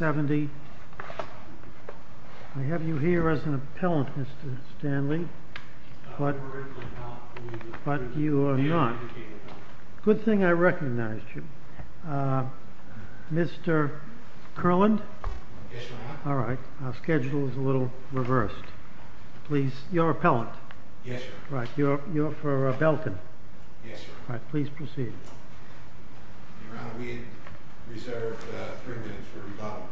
I have you here as an appellant, Mr. Stanley, but you are not. Good thing I recognized you. Mr. Curland? Yes, Your Honor. All right, our schedule is a little reversed. Please, you're appellant. Yes, Your Honor. Right, you're for Belkin. Yes, Your Honor. All right, please proceed. Your Honor, we reserve three minutes for rebuttal.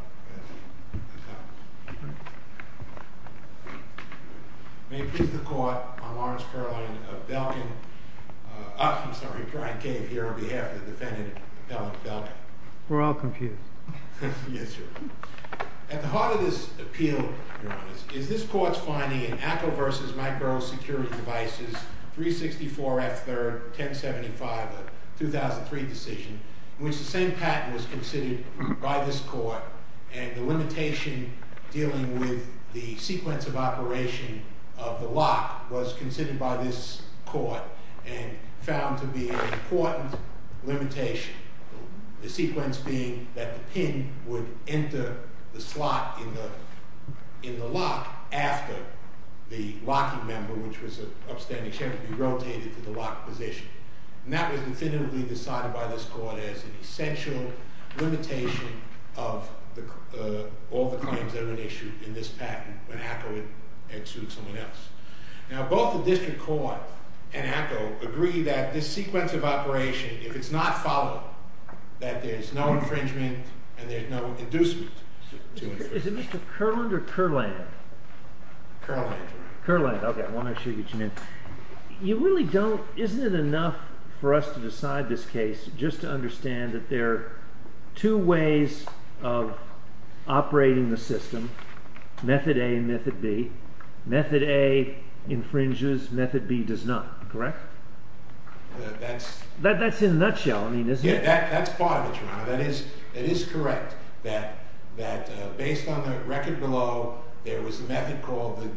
May it please the Court, I'm Lawrence Curland of Belkin. I'm sorry, Brian Cave here on behalf of the defendant, appellant Belkin. We're all confused. Yes, Your Honor. At the heart of this appeal, Your Honor, is this court's finding in ACCO v. Microsecurity Devices, 364 F. 3rd, 1075, the 2003 decision, in which the same patent was considered by this court and the limitation dealing with the sequence of operation of the lock was considered by this court and found to be an important limitation, the sequence being that the pin would enter the slot in the lock after the locking member, which was an upstanding chairman, would be rotated to the locked position. And that was definitively decided by this court as an essential limitation of all the claims that were issued in this patent when ACCO had sued someone else. Now, both the district court and ACCO agree that this sequence of operation, if it's not followed, that there's no infringement and there's no inducement to infringement. Is it Mr. Curland or Curland? Curland, Your Honor. Curland, okay, I want to make sure I get you in. You really don't, isn't it enough for us to decide this case just to understand that there are two ways of operating the system, method A and method B? Method A infringes, method B does not, correct? That's in a nutshell, isn't it? Yeah, that's part of it, Your Honor. That is correct, that based on the record below, there was a method called,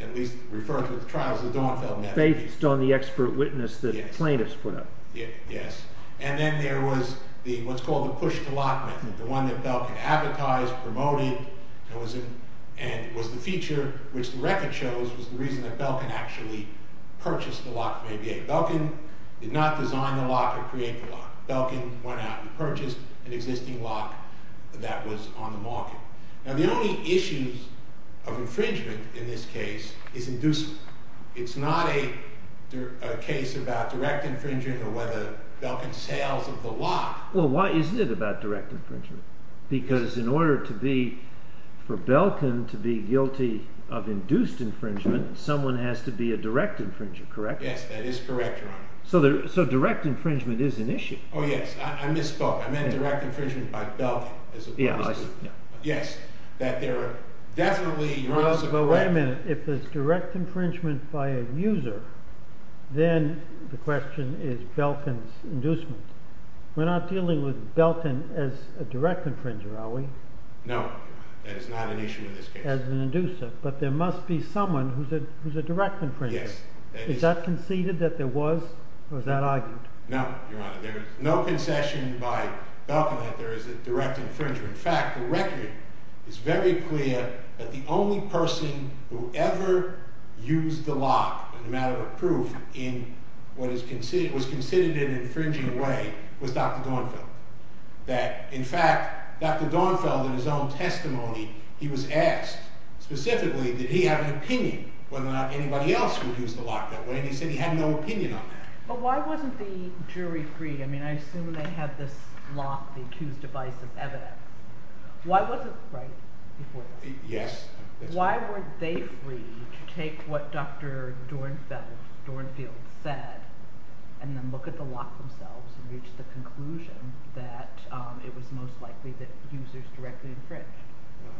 at least referred to in the trials, the Dornfeld method. Based on the expert witness that plaintiffs put up. And then there was what's called the push-to-lock method, the one that Belkin advertised, promoted, and was the feature which the record shows was the reason that Belkin actually purchased the lock from ABA. Belkin did not design the lock or create the lock. Belkin went out and purchased an existing lock that was on the market. Now, the only issues of infringement in this case is inducement. It's not a case about direct infringement or whether Belkin sells the lock. Well, why isn't it about direct infringement? Because in order for Belkin to be guilty of induced infringement, someone has to be a direct infringer, correct? Yes, that is correct, Your Honor. So direct infringement is an issue. Oh, yes, I misspoke. I meant direct infringement by Belkin. Yeah, I see. Yes, that there are definitely… Well, wait a minute. If there's direct infringement by a user, then the question is Belkin's inducement. We're not dealing with Belkin as a direct infringer, are we? No, Your Honor. That is not an issue in this case. As an inducer. But there must be someone who's a direct infringer. Yes. Is that conceded that there was, or is that argued? No, Your Honor. There is no concession by Belkin that there is a direct infringer. In fact, the record is very clear that the only person who ever used the lock as a matter of proof in what was considered an infringing way was Dr. Dornfeld. That, in fact, Dr. Dornfeld in his own testimony, he was asked specifically did he have an opinion whether or not anybody else would use the lock that way, and he said he had no opinion on that. But why wasn't the jury free? I mean, I assume they had this lock, the accused device, as evidence. Why wasn't – right before that? Yes. Why weren't they free to take what Dr. Dornfeld said and then look at the lock themselves and reach the conclusion that it was most likely that users directly infringed?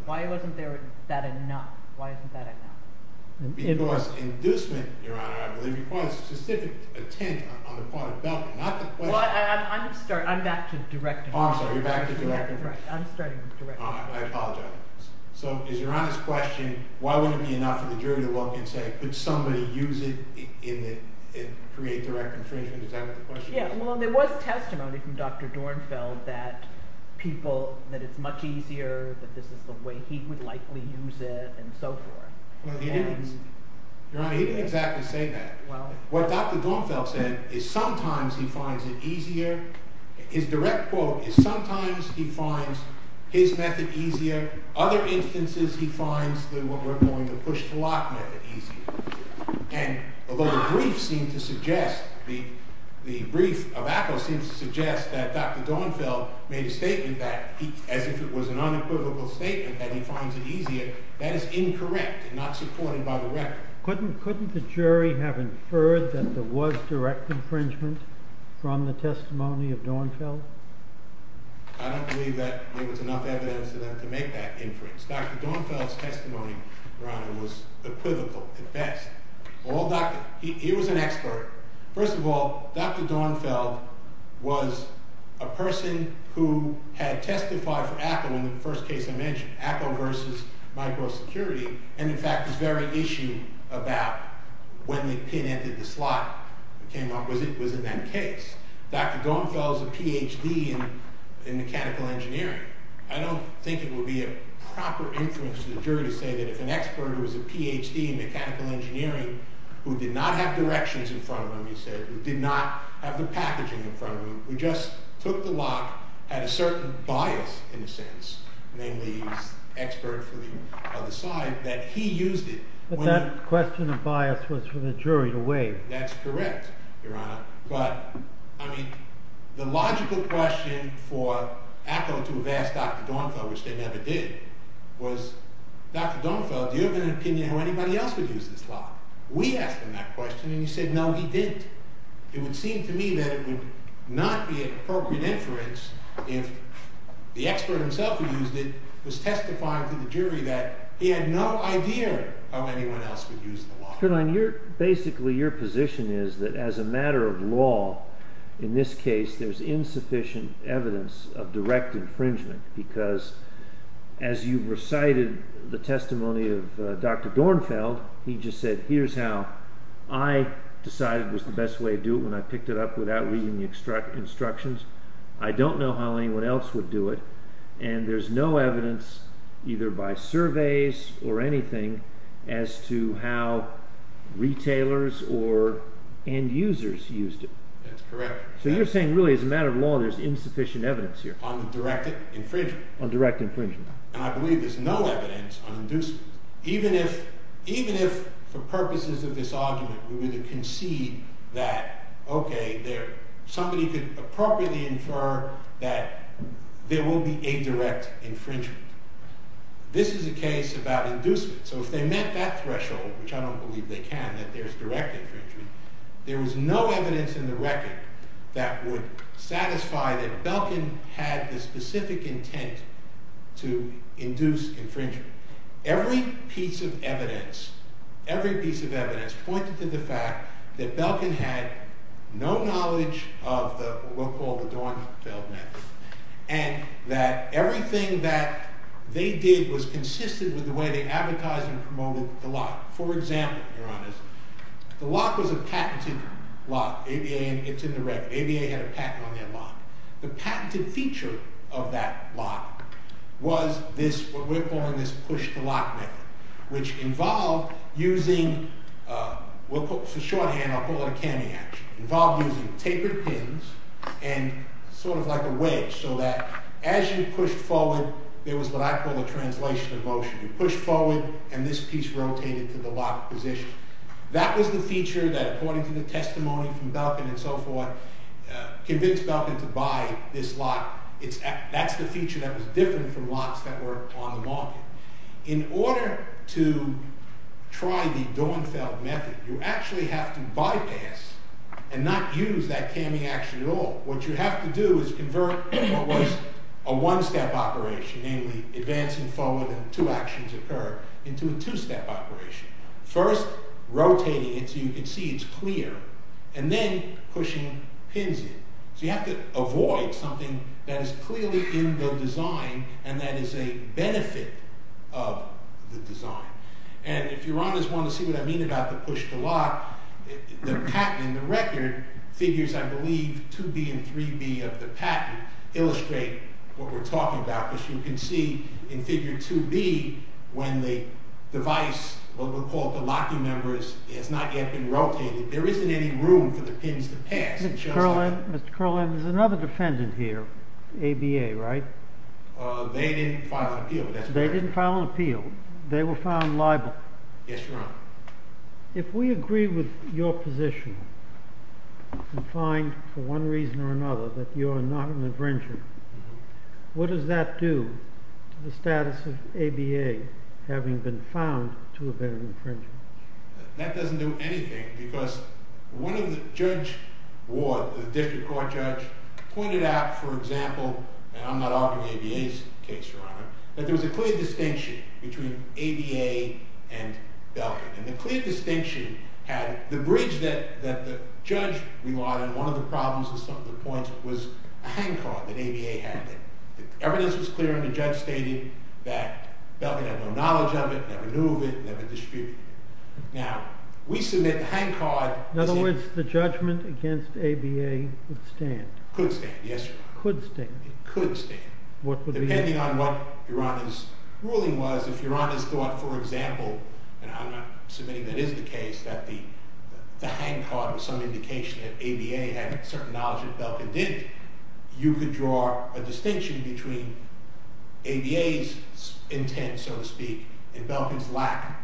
Why wasn't there that enough? Why isn't that enough? Because inducement, Your Honor, I believe, requires specific intent on the part of Belkin. Well, I'm back to direct infringement. I'm sorry. You're back to direct infringement. I'm starting with direct infringement. All right. I apologize. So is Your Honor's question why wouldn't it be enough for the jury to look and say could somebody use it and create direct infringement? Is that what the question is? Yeah. Well, there was testimony from Dr. Dornfeld that people – that it's much easier, that this is the way he would likely use it, and so forth. Well, he didn't – Your Honor, he didn't exactly say that. Well. What Dr. Dornfeld said is sometimes he finds it easier. His direct quote is sometimes he finds his method easier. Other instances he finds the – what we're calling the push-to-lock method easier. And although the brief seemed to suggest – the brief of Apple seemed to suggest that Dr. Dornfeld made a statement that he – as if it was an unequivocal statement that he finds it easier, that is incorrect and not supported by the record. Couldn't the jury have inferred that there was direct infringement from the testimony of Dornfeld? I don't believe that there was enough evidence for them to make that inference. Dr. Dornfeld's testimony, Your Honor, was equivocal at best. He was an expert. First of all, Dr. Dornfeld was a person who had testified for Apple in the first case I mentioned, Apple versus micro security, and in fact this very issue about when the pin entered the slot that came up was in that case. Dr. Dornfeld is a Ph.D. in mechanical engineering. I don't think it would be a proper inference to the jury to say that if an expert who is a Ph.D. in mechanical engineering who did not have directions in front of him, you said, who did not have the packaging in front of him, who just took the lock, had a certain bias in a sense, namely he was an expert for the other side, that he used it. But that question of bias was for the jury to weigh. That's correct, Your Honor. But, I mean, the logical question for Apple to have asked Dr. Dornfeld, which they never did, was, Dr. Dornfeld, do you have an opinion how anybody else would use this lock? We asked him that question, and he said, no, he didn't. It would seem to me that it would not be an appropriate inference if the expert himself who used it was testifying to the jury that he had no idea how anyone else would use the lock. Your Honor, basically your position is that as a matter of law, in this case, there's insufficient evidence of direct infringement because as you recited the testimony of Dr. Dornfeld, he just said, here's how I decided was the best way to do it when I picked it up without reading the instructions. I don't know how anyone else would do it, and there's no evidence either by surveys or anything as to how retailers or end users used it. That's correct. So you're saying really as a matter of law, there's insufficient evidence here. On direct infringement. On direct infringement. And I believe there's no evidence on inducement. Even if for purposes of this argument, we were to concede that, okay, somebody could appropriately infer that there will be a direct infringement. This is a case about inducement. So if they met that threshold, which I don't believe they can, that there's direct infringement, there was no evidence in the record that would satisfy that Belkin had the specific intent to induce infringement. Every piece of evidence, every piece of evidence pointed to the fact that Belkin had no knowledge of what we'll call the Dornfeld method. And that everything that they did was consistent with the way they advertised and promoted the lock. For example, Your Honor, the lock was a patented lock. It's in the record. ABA had a patent on their lock. The patented feature of that lock was this, what we're calling this push-to-lock method, which involved using, for shorthand, I'll call it a cammy action. Involved using tapered pins and sort of like a wedge so that as you pushed forward, there was what I call a translation of motion. You pushed forward and this piece rotated to the lock position. That was the feature that, according to the testimony from Belkin and so forth, convinced Belkin to buy this lock. That's the feature that was different from locks that were on the market. In order to try the Dornfeld method, you actually have to bypass and not use that cammy action at all. What you have to do is convert what was a one-step operation, namely advancing forward and two actions occur, into a two-step operation. First, rotating it so you can see it's clear, and then pushing pins in. You have to avoid something that is clearly in the design and that is a benefit of the design. If Your Honors want to see what I mean about the push-to-lock, the patent in the record figures, I believe, 2B and 3B of the patent illustrate what we're talking about. As you can see in figure 2B, when the device, what we'll call the locking members, has not yet been rotated, there isn't any room for the pins to pass. Mr. Kerlin, there's another defendant here, ABA, right? They didn't file an appeal. They didn't file an appeal. They were found liable. Yes, Your Honor. If we agree with your position and find, for one reason or another, that you're not an infringer, what does that do to the status of ABA having been found to have been an infringer? That doesn't do anything because one of the judge, the district court judge, pointed out, for example, and I'm not arguing ABA's case, Your Honor, that there was a clear distinction between ABA and Belkin. And the clear distinction had the bridge that the judge relied on. One of the problems with some of the points was a hand card that ABA had. The evidence was clear and the judge stated that Belkin had no knowledge of it, never knew of it, never distributed it. Now, we submit the hand card. In other words, the judgment against ABA would stand. Could stand, yes, Your Honor. Could stand. It could stand. Depending on what Your Honor's ruling was, if Your Honor thought, for example, and I'm not submitting that is the case, that the hand card was some indication that ABA had certain knowledge that Belkin didn't, you could draw a distinction between ABA's intent, so to speak, and Belkin's lack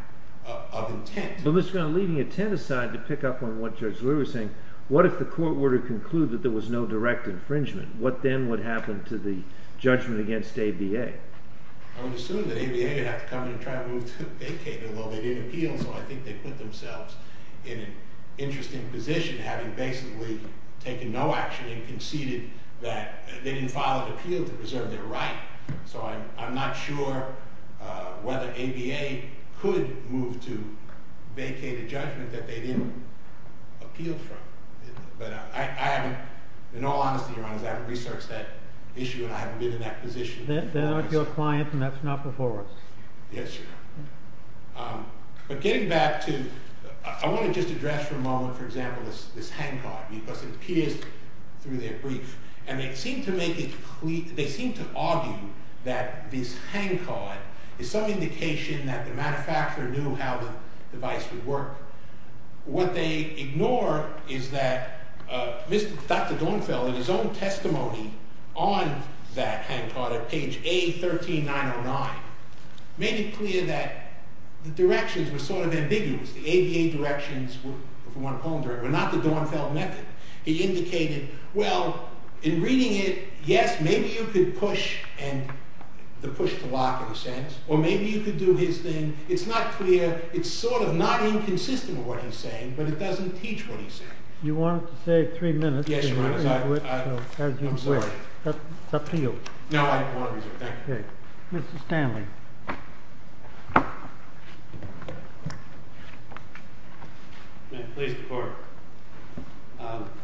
of intent. Well, Mr. Grant, leaving intent aside to pick up on what Judge Leary was saying, what if the court were to conclude that there was no direct infringement? What then would happen to the judgment against ABA? I would assume that ABA would have to come in and try to move to vacated, although they didn't appeal, so I think they put themselves in an interesting position, having basically taken no action and conceded that they didn't file an appeal to preserve their right. So I'm not sure whether ABA could move to vacated judgment that they didn't appeal from. But I haven't, in all honesty, Your Honor, I haven't researched that issue and I haven't been in that position. They're not your clients and that's not before us. Yes, Your Honor. But getting back to, I want to just address for a moment, for example, this hand card, because it appears through their brief, and they seem to argue that this hand card is some indication that the manufacturer knew how the device would work. What they ignore is that Dr. Dornfeld, in his own testimony on that hand card at page A13909, made it clear that the directions were sort of ambiguous. The ABA directions were not the Dornfeld method. He indicated, well, in reading it, yes, maybe you could push the lock in a sense, or maybe you could do his thing. It's not clear. It's sort of not inconsistent with what he's saying, but it doesn't teach what he's saying. You wanted to save three minutes. Yes, Your Honor. I'm sorry. It's up to you. No, I won't. Thank you. Mr. Stanley.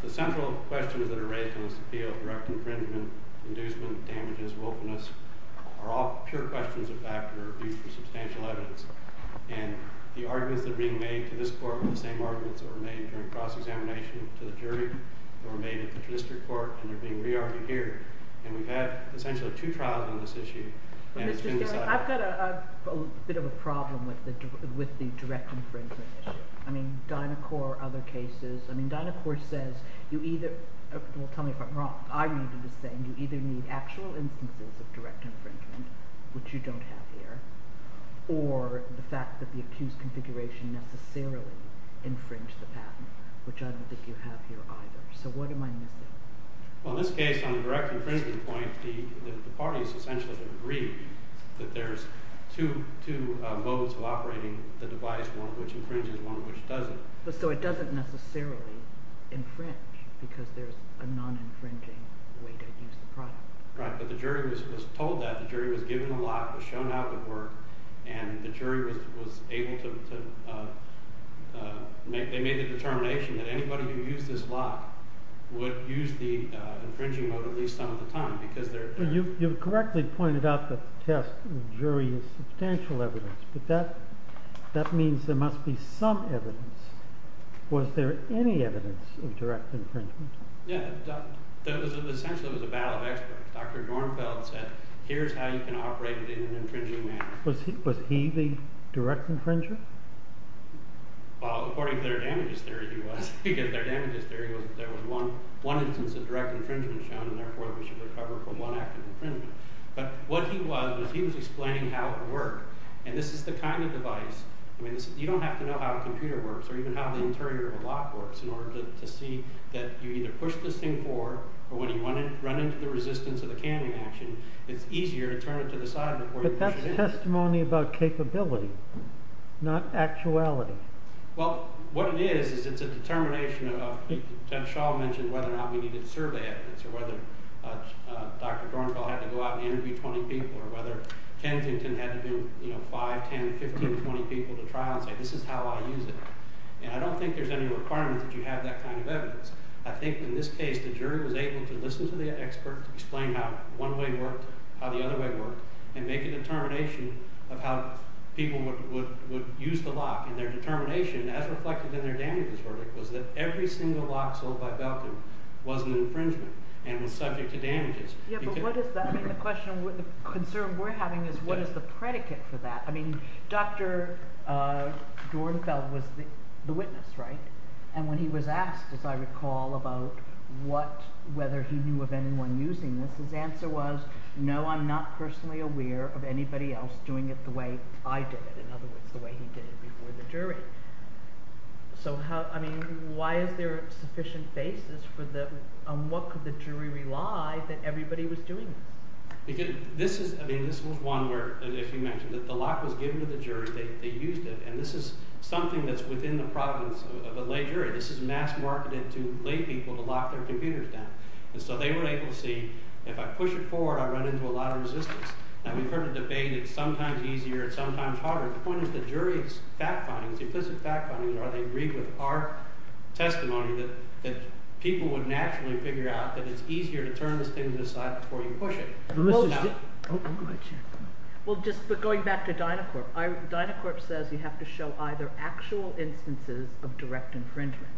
The central questions that are raised in this appeal, direct infringement, inducement, damages, wilfulness, are all pure questions of factor due to substantial evidence. And the arguments that are being made to this court are the same arguments that were made during cross-examination to the jury that were made at the district court and are being re-argued here. And we've had essentially two trials on this issue. Mr. Stanley, I've got a bit of a problem with the direct infringement issue. I mean, Dynacor, other cases. I mean, Dynacor says you either – well, tell me if I'm wrong. I read it the same. You either need actual instances of direct infringement, which you don't have here, or the fact that the accused configuration necessarily infringed the patent, which I don't think you have here either. So what am I missing? Well, in this case, on the direct infringement point, the parties essentially agree that there's two modes of operating the device, one of which infringes, one of which doesn't. So it doesn't necessarily infringe because there's a non-infringing way to use the product. Right, but the jury was told that. The jury was given the lock, was shown how it would work, and the jury was able to – they made the determination that anybody who used this lock would use the infringing mode at least some of the time because they're – You correctly pointed out that the test of the jury is substantial evidence, but that means there must be some evidence. Was there any evidence of direct infringement? Yeah. Essentially, it was a battle of experts. Dr. Dornfeld said, here's how you can operate it in an infringing manner. Was he the direct infringer? Well, according to their damages theory, he was, because their damages theory was that there was one instance of direct infringement shown, and therefore we should recover from one active infringement. But what he was, he was explaining how it worked, and this is the kind of device – you don't have to know how a computer works or even how the interior of a lock works in order to see that you either push this thing forward or when you run into the resistance of the canning action, it's easier to turn it to the side before you push it in. But that's testimony about capability, not actuality. Well, what it is is it's a determination of – as Shaw mentioned, whether or not we needed survey evidence or whether Dr. Dornfeld had to go out and interview 20 people or whether Kensington had to do 5, 10, 15, 20 people to try and say this is how I use it. And I don't think there's any requirement that you have that kind of evidence. I think in this case the jury was able to listen to the expert to explain how one way worked, how the other way worked, and make a determination of how people would use the lock. And their determination, as reflected in their damages verdict, was that every single lock sold by Belkin was an infringement and was subject to damages. Yeah, but what is that? I mean the question, the concern we're having is what is the predicate for that? I mean Dr. Dornfeld was the witness, right? And when he was asked, as I recall, about what – whether he knew of anyone using this, his answer was, no, I'm not personally aware of anybody else doing it the way I did it. In other words, the way he did it before the jury. So how – I mean why is there a sufficient basis for the – on what could the jury rely that everybody was doing this? Because this is – I mean this was one where, as you mentioned, the lock was given to the jury, they used it, and this is something that's within the province of a lay jury. This is mass marketed to lay people to lock their computers down. And so they were able to see, if I push it forward, I run into a lot of resistance. Now we've heard a debate, it's sometimes easier, it's sometimes harder. The point is the jury's fact findings, implicit fact findings, are they agreed with our testimony that people would naturally figure out that it's easier to turn this thing to the side before you push it. Well, just going back to Dynacorp, Dynacorp says you have to show either actual instances of direct infringement,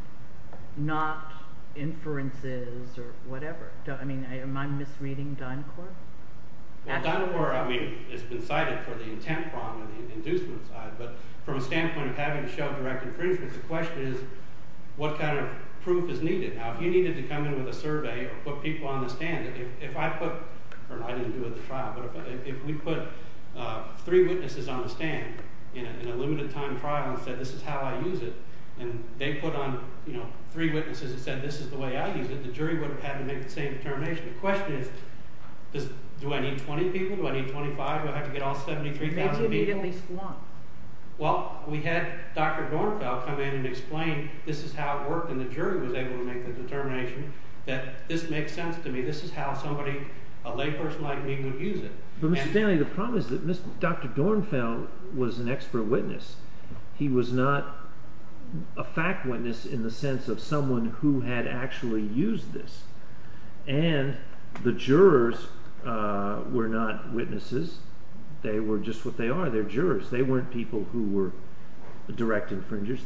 not inferences or whatever. I mean, am I misreading Dynacorp? Well, Dynacorp, I mean, has been cited for the intent problem, the inducement side, but from a standpoint of having to show direct infringement, the question is what kind of proof is needed. Now if you needed to come in with a survey or put people on the stand, if I put, or I didn't do it at the trial, but if we put three witnesses on a stand in a limited time trial and said this is how I use it, and they put on three witnesses and said this is the way I use it, the jury would have had to make the same determination. The question is do I need 20 people? Do I need 25? Do I have to get all 73,000 people? They did need at least one. Well, we had Dr. Dornfeld come in and explain this is how it worked and the jury was able to make the determination that this makes sense to me, this is how somebody, a layperson like me, would use it. But Mr. Stanley, the problem is that Dr. Dornfeld was an expert witness. He was not a fact witness in the sense of someone who had actually used this, and the jurors were not witnesses, they were just what they are, they're jurors, they weren't people who were direct infringers.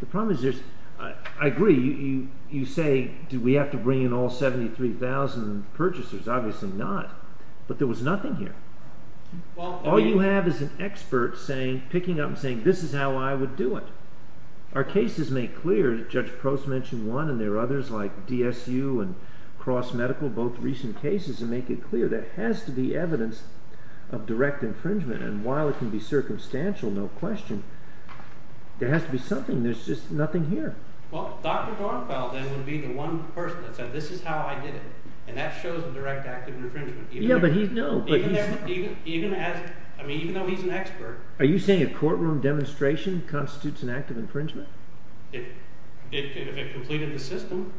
The problem is, I agree, you say do we have to bring in all 73,000 purchasers, obviously not, but there was nothing here. All you have is an expert picking up and saying this is how I would do it. Our cases make clear, Judge Prost mentioned one, and there are others like DSU and Cross Medical, both recent cases, and make it clear there has to be evidence of direct infringement, and while it can be circumstantial, no question, there has to be something, there's just nothing here. Well, Dr. Dornfeld then would be the one person that said this is how I did it, and that shows a direct act of infringement. Yeah, but he's, no, but he's... Even as, I mean, even though he's an expert... Are you saying a courtroom demonstration constitutes an act of infringement? If it completed the system,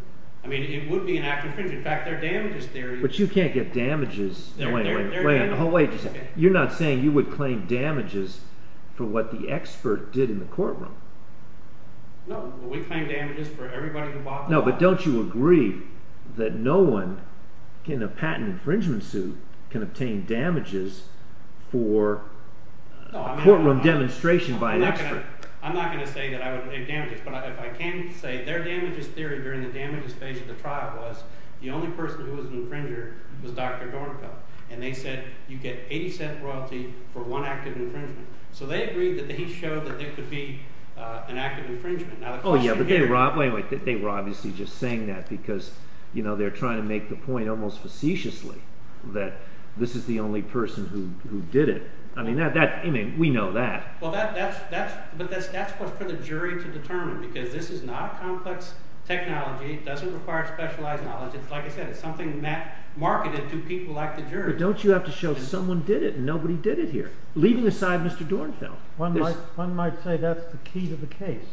I mean, it would be an act of infringement, in fact, there are damages there... But you can't get damages... There are damages... Wait a second, you're not saying you would claim damages for what the expert did in the courtroom? No, but don't you agree that no one in a patent infringement suit can obtain damages for a courtroom demonstration by an expert? I'm not going to say that I would claim damages, but if I can say their damages theory during the damages phase of the trial was the only person who was an infringer was Dr. Dornfeld, and they said you get 80 cent royalty for one act of infringement. So they agreed that he showed that there could be an act of infringement. Oh yeah, but they were obviously just saying that because they're trying to make the point almost facetiously that this is the only person who did it. I mean, we know that. But that's for the jury to determine because this is not complex technology, it doesn't require specialized knowledge, it's like I said, it's something marketed to people like the jury. But don't you have to show someone did it and nobody did it here, leaving aside Mr. Dornfeld. One might say that's the key to the case.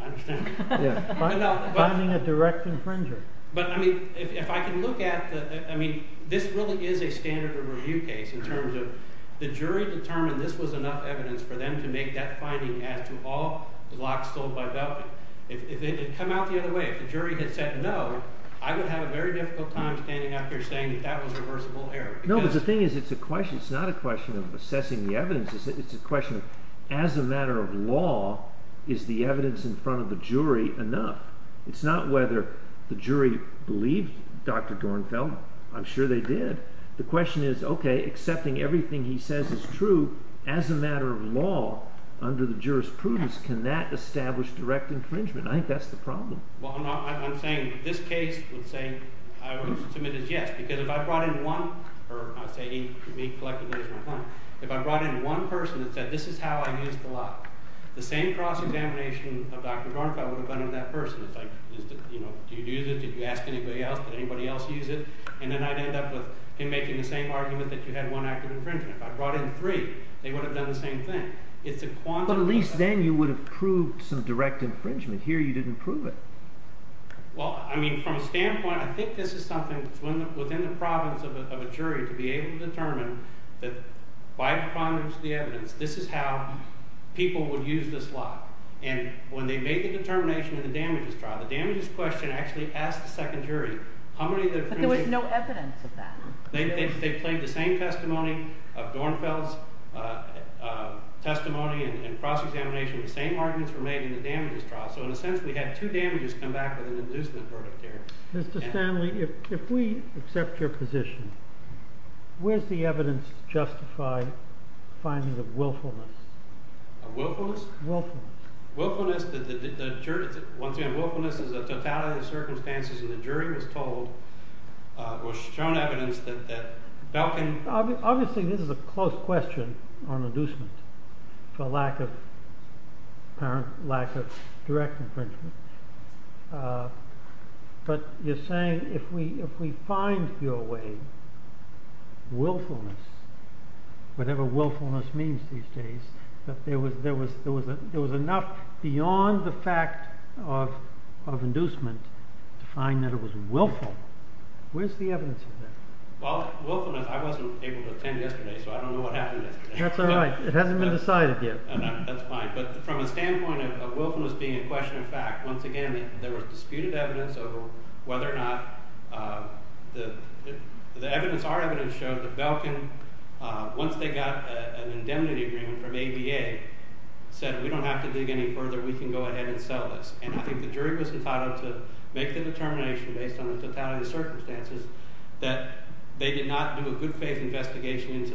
I understand. Finding a direct infringer. But I mean, if I can look at the, I mean, this really is a standard of review case in terms of the jury determined this was enough evidence for them to make that finding as to all blocks sold by Belkin. If it had come out the other way, if the jury had said no, I would have a very difficult time standing up here saying that that was reversible error. No, but the thing is, it's a question, it's not a question of assessing the evidence, it's a question of as a matter of law, is the evidence in front of the jury enough? It's not whether the jury believed Dr. Dornfeld. I'm sure they did. The question is, okay, accepting everything he says is true as a matter of law under the jurisprudence, can that establish direct infringement? I think that's the problem. Well, I'm saying this case, let's say, I would submit as yes, because if I brought in one, or I would say he collected additional claim, if I brought in one person that said this is how I used the law, the same cross-examination of Dr. Dornfeld would have done in that person. It's like, you know, do you use it, did you ask anybody else, did anybody else use it? And then I'd end up with him making the same argument that you had one act of infringement. If I brought in three, they would have done the same thing. But at least then you would have proved some direct infringement. Here you didn't prove it. Well, I mean, from a standpoint, I think this is something within the province of a jury to be able to determine that by the prominence of the evidence, this is how people would use this law. And when they made the determination in the damages trial, the damages question actually asked the second jury how many of their friends… But there was no evidence of that. They played the same testimony of Dornfeld's testimony and cross-examination. The same arguments were made in the damages trial. So in a sense, we had two damages come back with an inducement verdict there. Mr. Stanley, if we accept your position, where's the evidence to justify finding of willfulness? Of willfulness? Willfulness. Willfulness is a totality of circumstances and the jury was told, was shown evidence that Belkin… Obviously, this is a close question on inducement for lack of direct infringement. But you're saying if we find your way, willfulness, whatever willfulness means these days, that there was enough beyond the fact of inducement to find that it was willful. Where's the evidence of that? Well, willfulness, I wasn't able to attend yesterday, so I don't know what happened yesterday. That's all right. It hasn't been decided yet. That's fine. But from the standpoint of willfulness being a question of fact, once again, there was disputed evidence of whether or not the evidence… Our evidence showed that Belkin, once they got an indemnity agreement from ABA, said we don't have to dig any further. We can go ahead and sell this. And I think the jury was entitled to make the determination based on the totality of circumstances that they did not do a good faith investigation into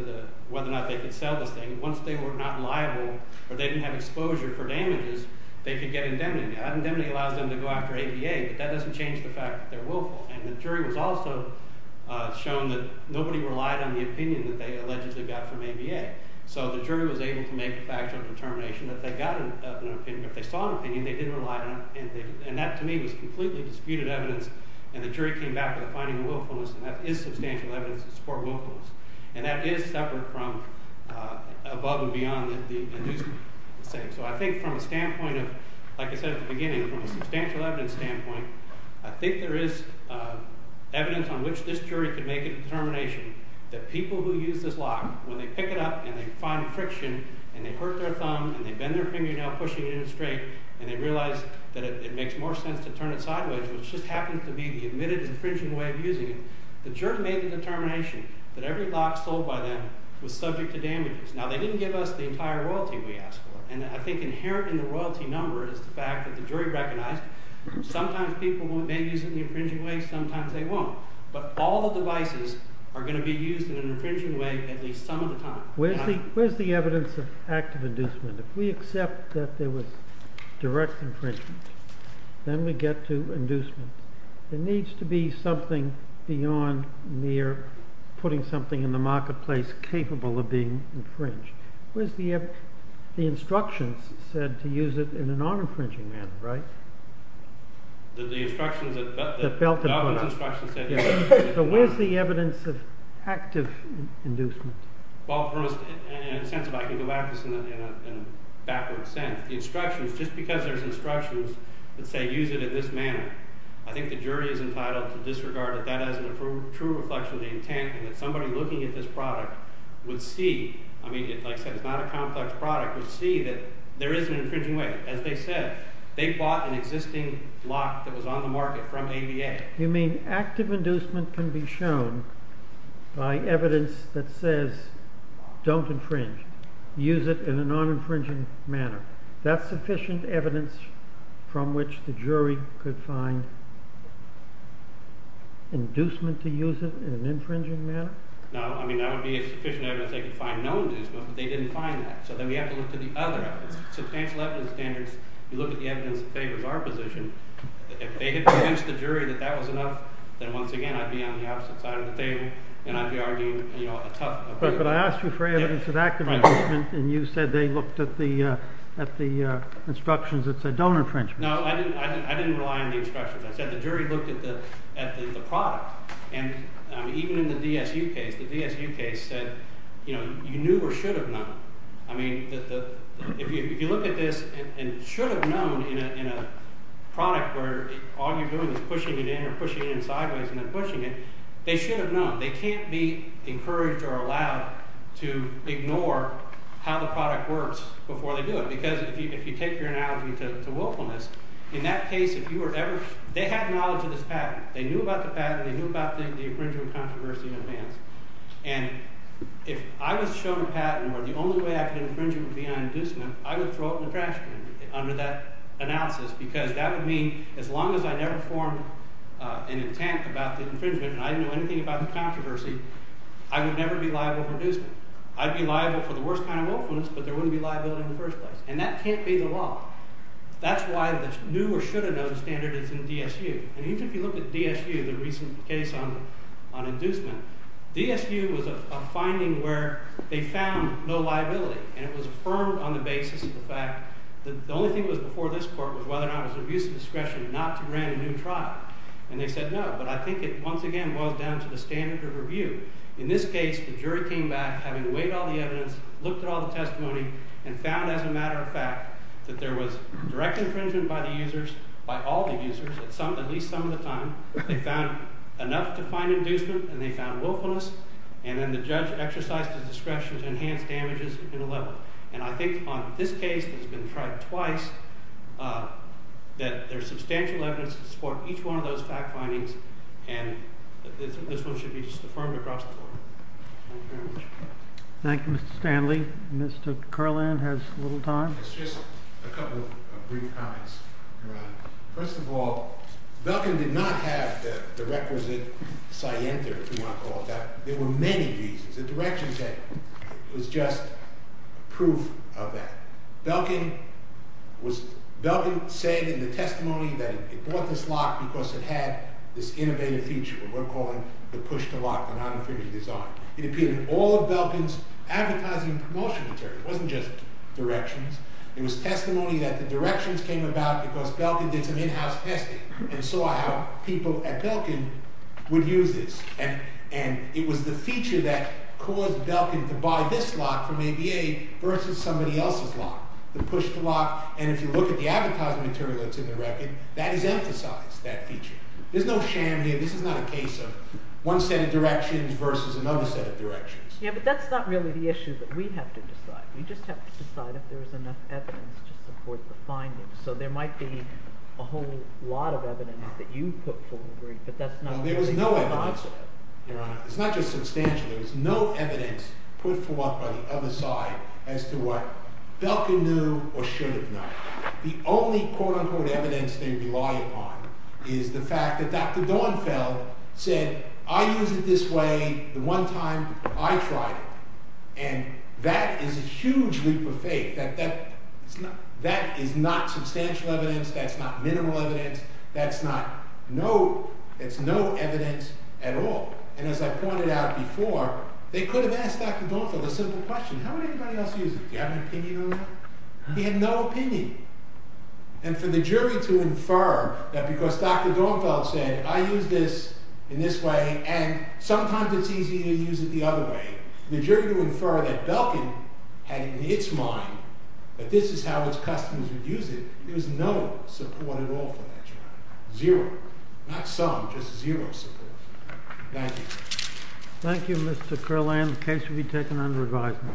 the… Once they were not liable or they didn't have exposure for damages, they could get indemnity. Now, indemnity allows them to go after ABA, but that doesn't change the fact that they're willful. And the jury was also shown that nobody relied on the opinion that they allegedly got from ABA. So the jury was able to make a factual determination that they got an opinion. If they saw an opinion, they didn't rely on it. And that, to me, was completely disputed evidence, and the jury came back with a finding of willfulness, and that is substantial evidence to support willfulness. And that is separate from above and beyond the inducing. So I think from a standpoint of, like I said at the beginning, from a substantial evidence standpoint, I think there is evidence on which this jury could make a determination that people who use this lock, when they pick it up and they find friction and they hurt their thumb and they bend their fingernail pushing it in a straight and they realize that it makes more sense to turn it sideways, which just happens to be the admitted infringing way of using it, the jury made the determination that every lock sold by them was subject to damages. Now, they didn't give us the entire royalty we asked for. And I think inherent in the royalty number is the fact that the jury recognized sometimes people may use it in the infringing way, sometimes they won't. But all the devices are going to be used in an infringing way at least some of the time. Where's the evidence of active inducement? If we accept that there was direct infringement, then we get to inducement. There needs to be something beyond mere putting something in the marketplace capable of being infringed. Where's the instructions said to use it in a non-infringing manner, right? The instructions that felt it were not. But where's the evidence of active inducement? I can go back to this in a backward sense. The instructions, just because there's instructions that say use it in this manner, I think the jury is entitled to disregard that as a true reflection of the intent. And that somebody looking at this product would see, I mean, like I said, it's not a complex product, would see that there is an infringing way. As they said, they bought an existing lock that was on the market from ABA. You mean active inducement can be shown by evidence that says don't infringe. Use it in a non-infringing manner. That's sufficient evidence from which the jury could find inducement to use it in an infringing manner? No, I mean, that would be sufficient evidence they could find no inducement, but they didn't find that. So then we have to look to the other evidence. Substantial evidence standards, you look at the evidence that favors our position. If they had convinced the jury that that was enough, then once again I'd be on the opposite side of the table, and I'd be arguing a tough opinion. But I asked you for evidence of active inducement, and you said they looked at the instructions that said don't infringe. No, I didn't rely on the instructions. I said the jury looked at the product, and even in the DSU case, the DSU case said you knew or should have known. I mean if you look at this and should have known in a product where all you're doing is pushing it in or pushing it in sideways and then pushing it, they should have known. They can't be encouraged or allowed to ignore how the product works before they do it because if you take your analogy to willfulness, in that case if you were ever – they had knowledge of this patent. They knew about the patent. They knew about the infringement controversy in advance. And if I was shown a patent where the only way I could infringe it would be on inducement, I would throw it in the trash can under that analysis because that would mean as long as I never formed an intent about the infringement and I didn't know anything about the controversy, I would never be liable for inducement. I'd be liable for the worst kind of willfulness, but there wouldn't be liability in the first place, and that can't be the law. That's why the knew or should have known standard is in DSU. And even if you look at DSU, the recent case on inducement, DSU was a finding where they found no liability, and it was affirmed on the basis of the fact that the only thing that was before this court was whether or not it was abuse of discretion not to grant a new trial. And they said no, but I think it once again boils down to the standard of review. In this case, the jury came back having weighed all the evidence, looked at all the testimony, and found as a matter of fact that there was direct infringement by the users, by all the users, at least some of the time. They found enough to find inducement, and they found willfulness, and then the judge exercised his discretion to enhance damages in a level. And I think on this case that's been tried twice that there's substantial evidence to support each one of those fact findings, and this one should be just affirmed across the board. Thank you very much. Thank you, Mr. Stanley. Mr. Carland has a little time. It's just a couple of brief comments, Your Honor. First of all, Belkin did not have the requisite scienter, if you want to call it that. There were many reasons. The directions that it was just proof of that. Belkin was – Belkin said in the testimony that it bought this lock because it had this innovative feature, what we're calling the push-to-lock non-infringement design. It appeared in all of Belkin's advertising and promotion material. It wasn't just directions. It was testimony that the directions came about because Belkin did some in-house testing and saw how people at Belkin would use this. And it was the feature that caused Belkin to buy this lock from ABA versus somebody else's lock, the push-to-lock. And if you look at the advertising material that's in the record, that has emphasized that feature. There's no sham here. This is not a case of one set of directions versus another set of directions. Yeah, but that's not really the issue that we have to decide. We just have to decide if there's enough evidence to support the findings. So there might be a whole lot of evidence that you put forward, but that's not really the answer. No, there was no evidence. Your Honor, it's not just substantial. There was no evidence put forth by the other side as to what Belkin knew or should have known. The only quote-unquote evidence they rely upon is the fact that Dr. Dornfeld said, I used it this way the one time that I tried it. And that is a huge leap of faith. That is not substantial evidence. That's not minimal evidence. That's no evidence at all. And as I pointed out before, they could have asked Dr. Dornfeld a simple question. How would anybody else use it? Do you have an opinion on that? He had no opinion. And for the jury to infer that because Dr. Dornfeld said, I use this in this way, and sometimes it's easy to use it the other way, for the jury to infer that Belkin had in its mind that this is how its customers would use it, there was no support at all for that trial. Zero. Not some, just zero support. Thank you. Thank you, Mr. Kurlan. The case will be taken under advisement. Thank you.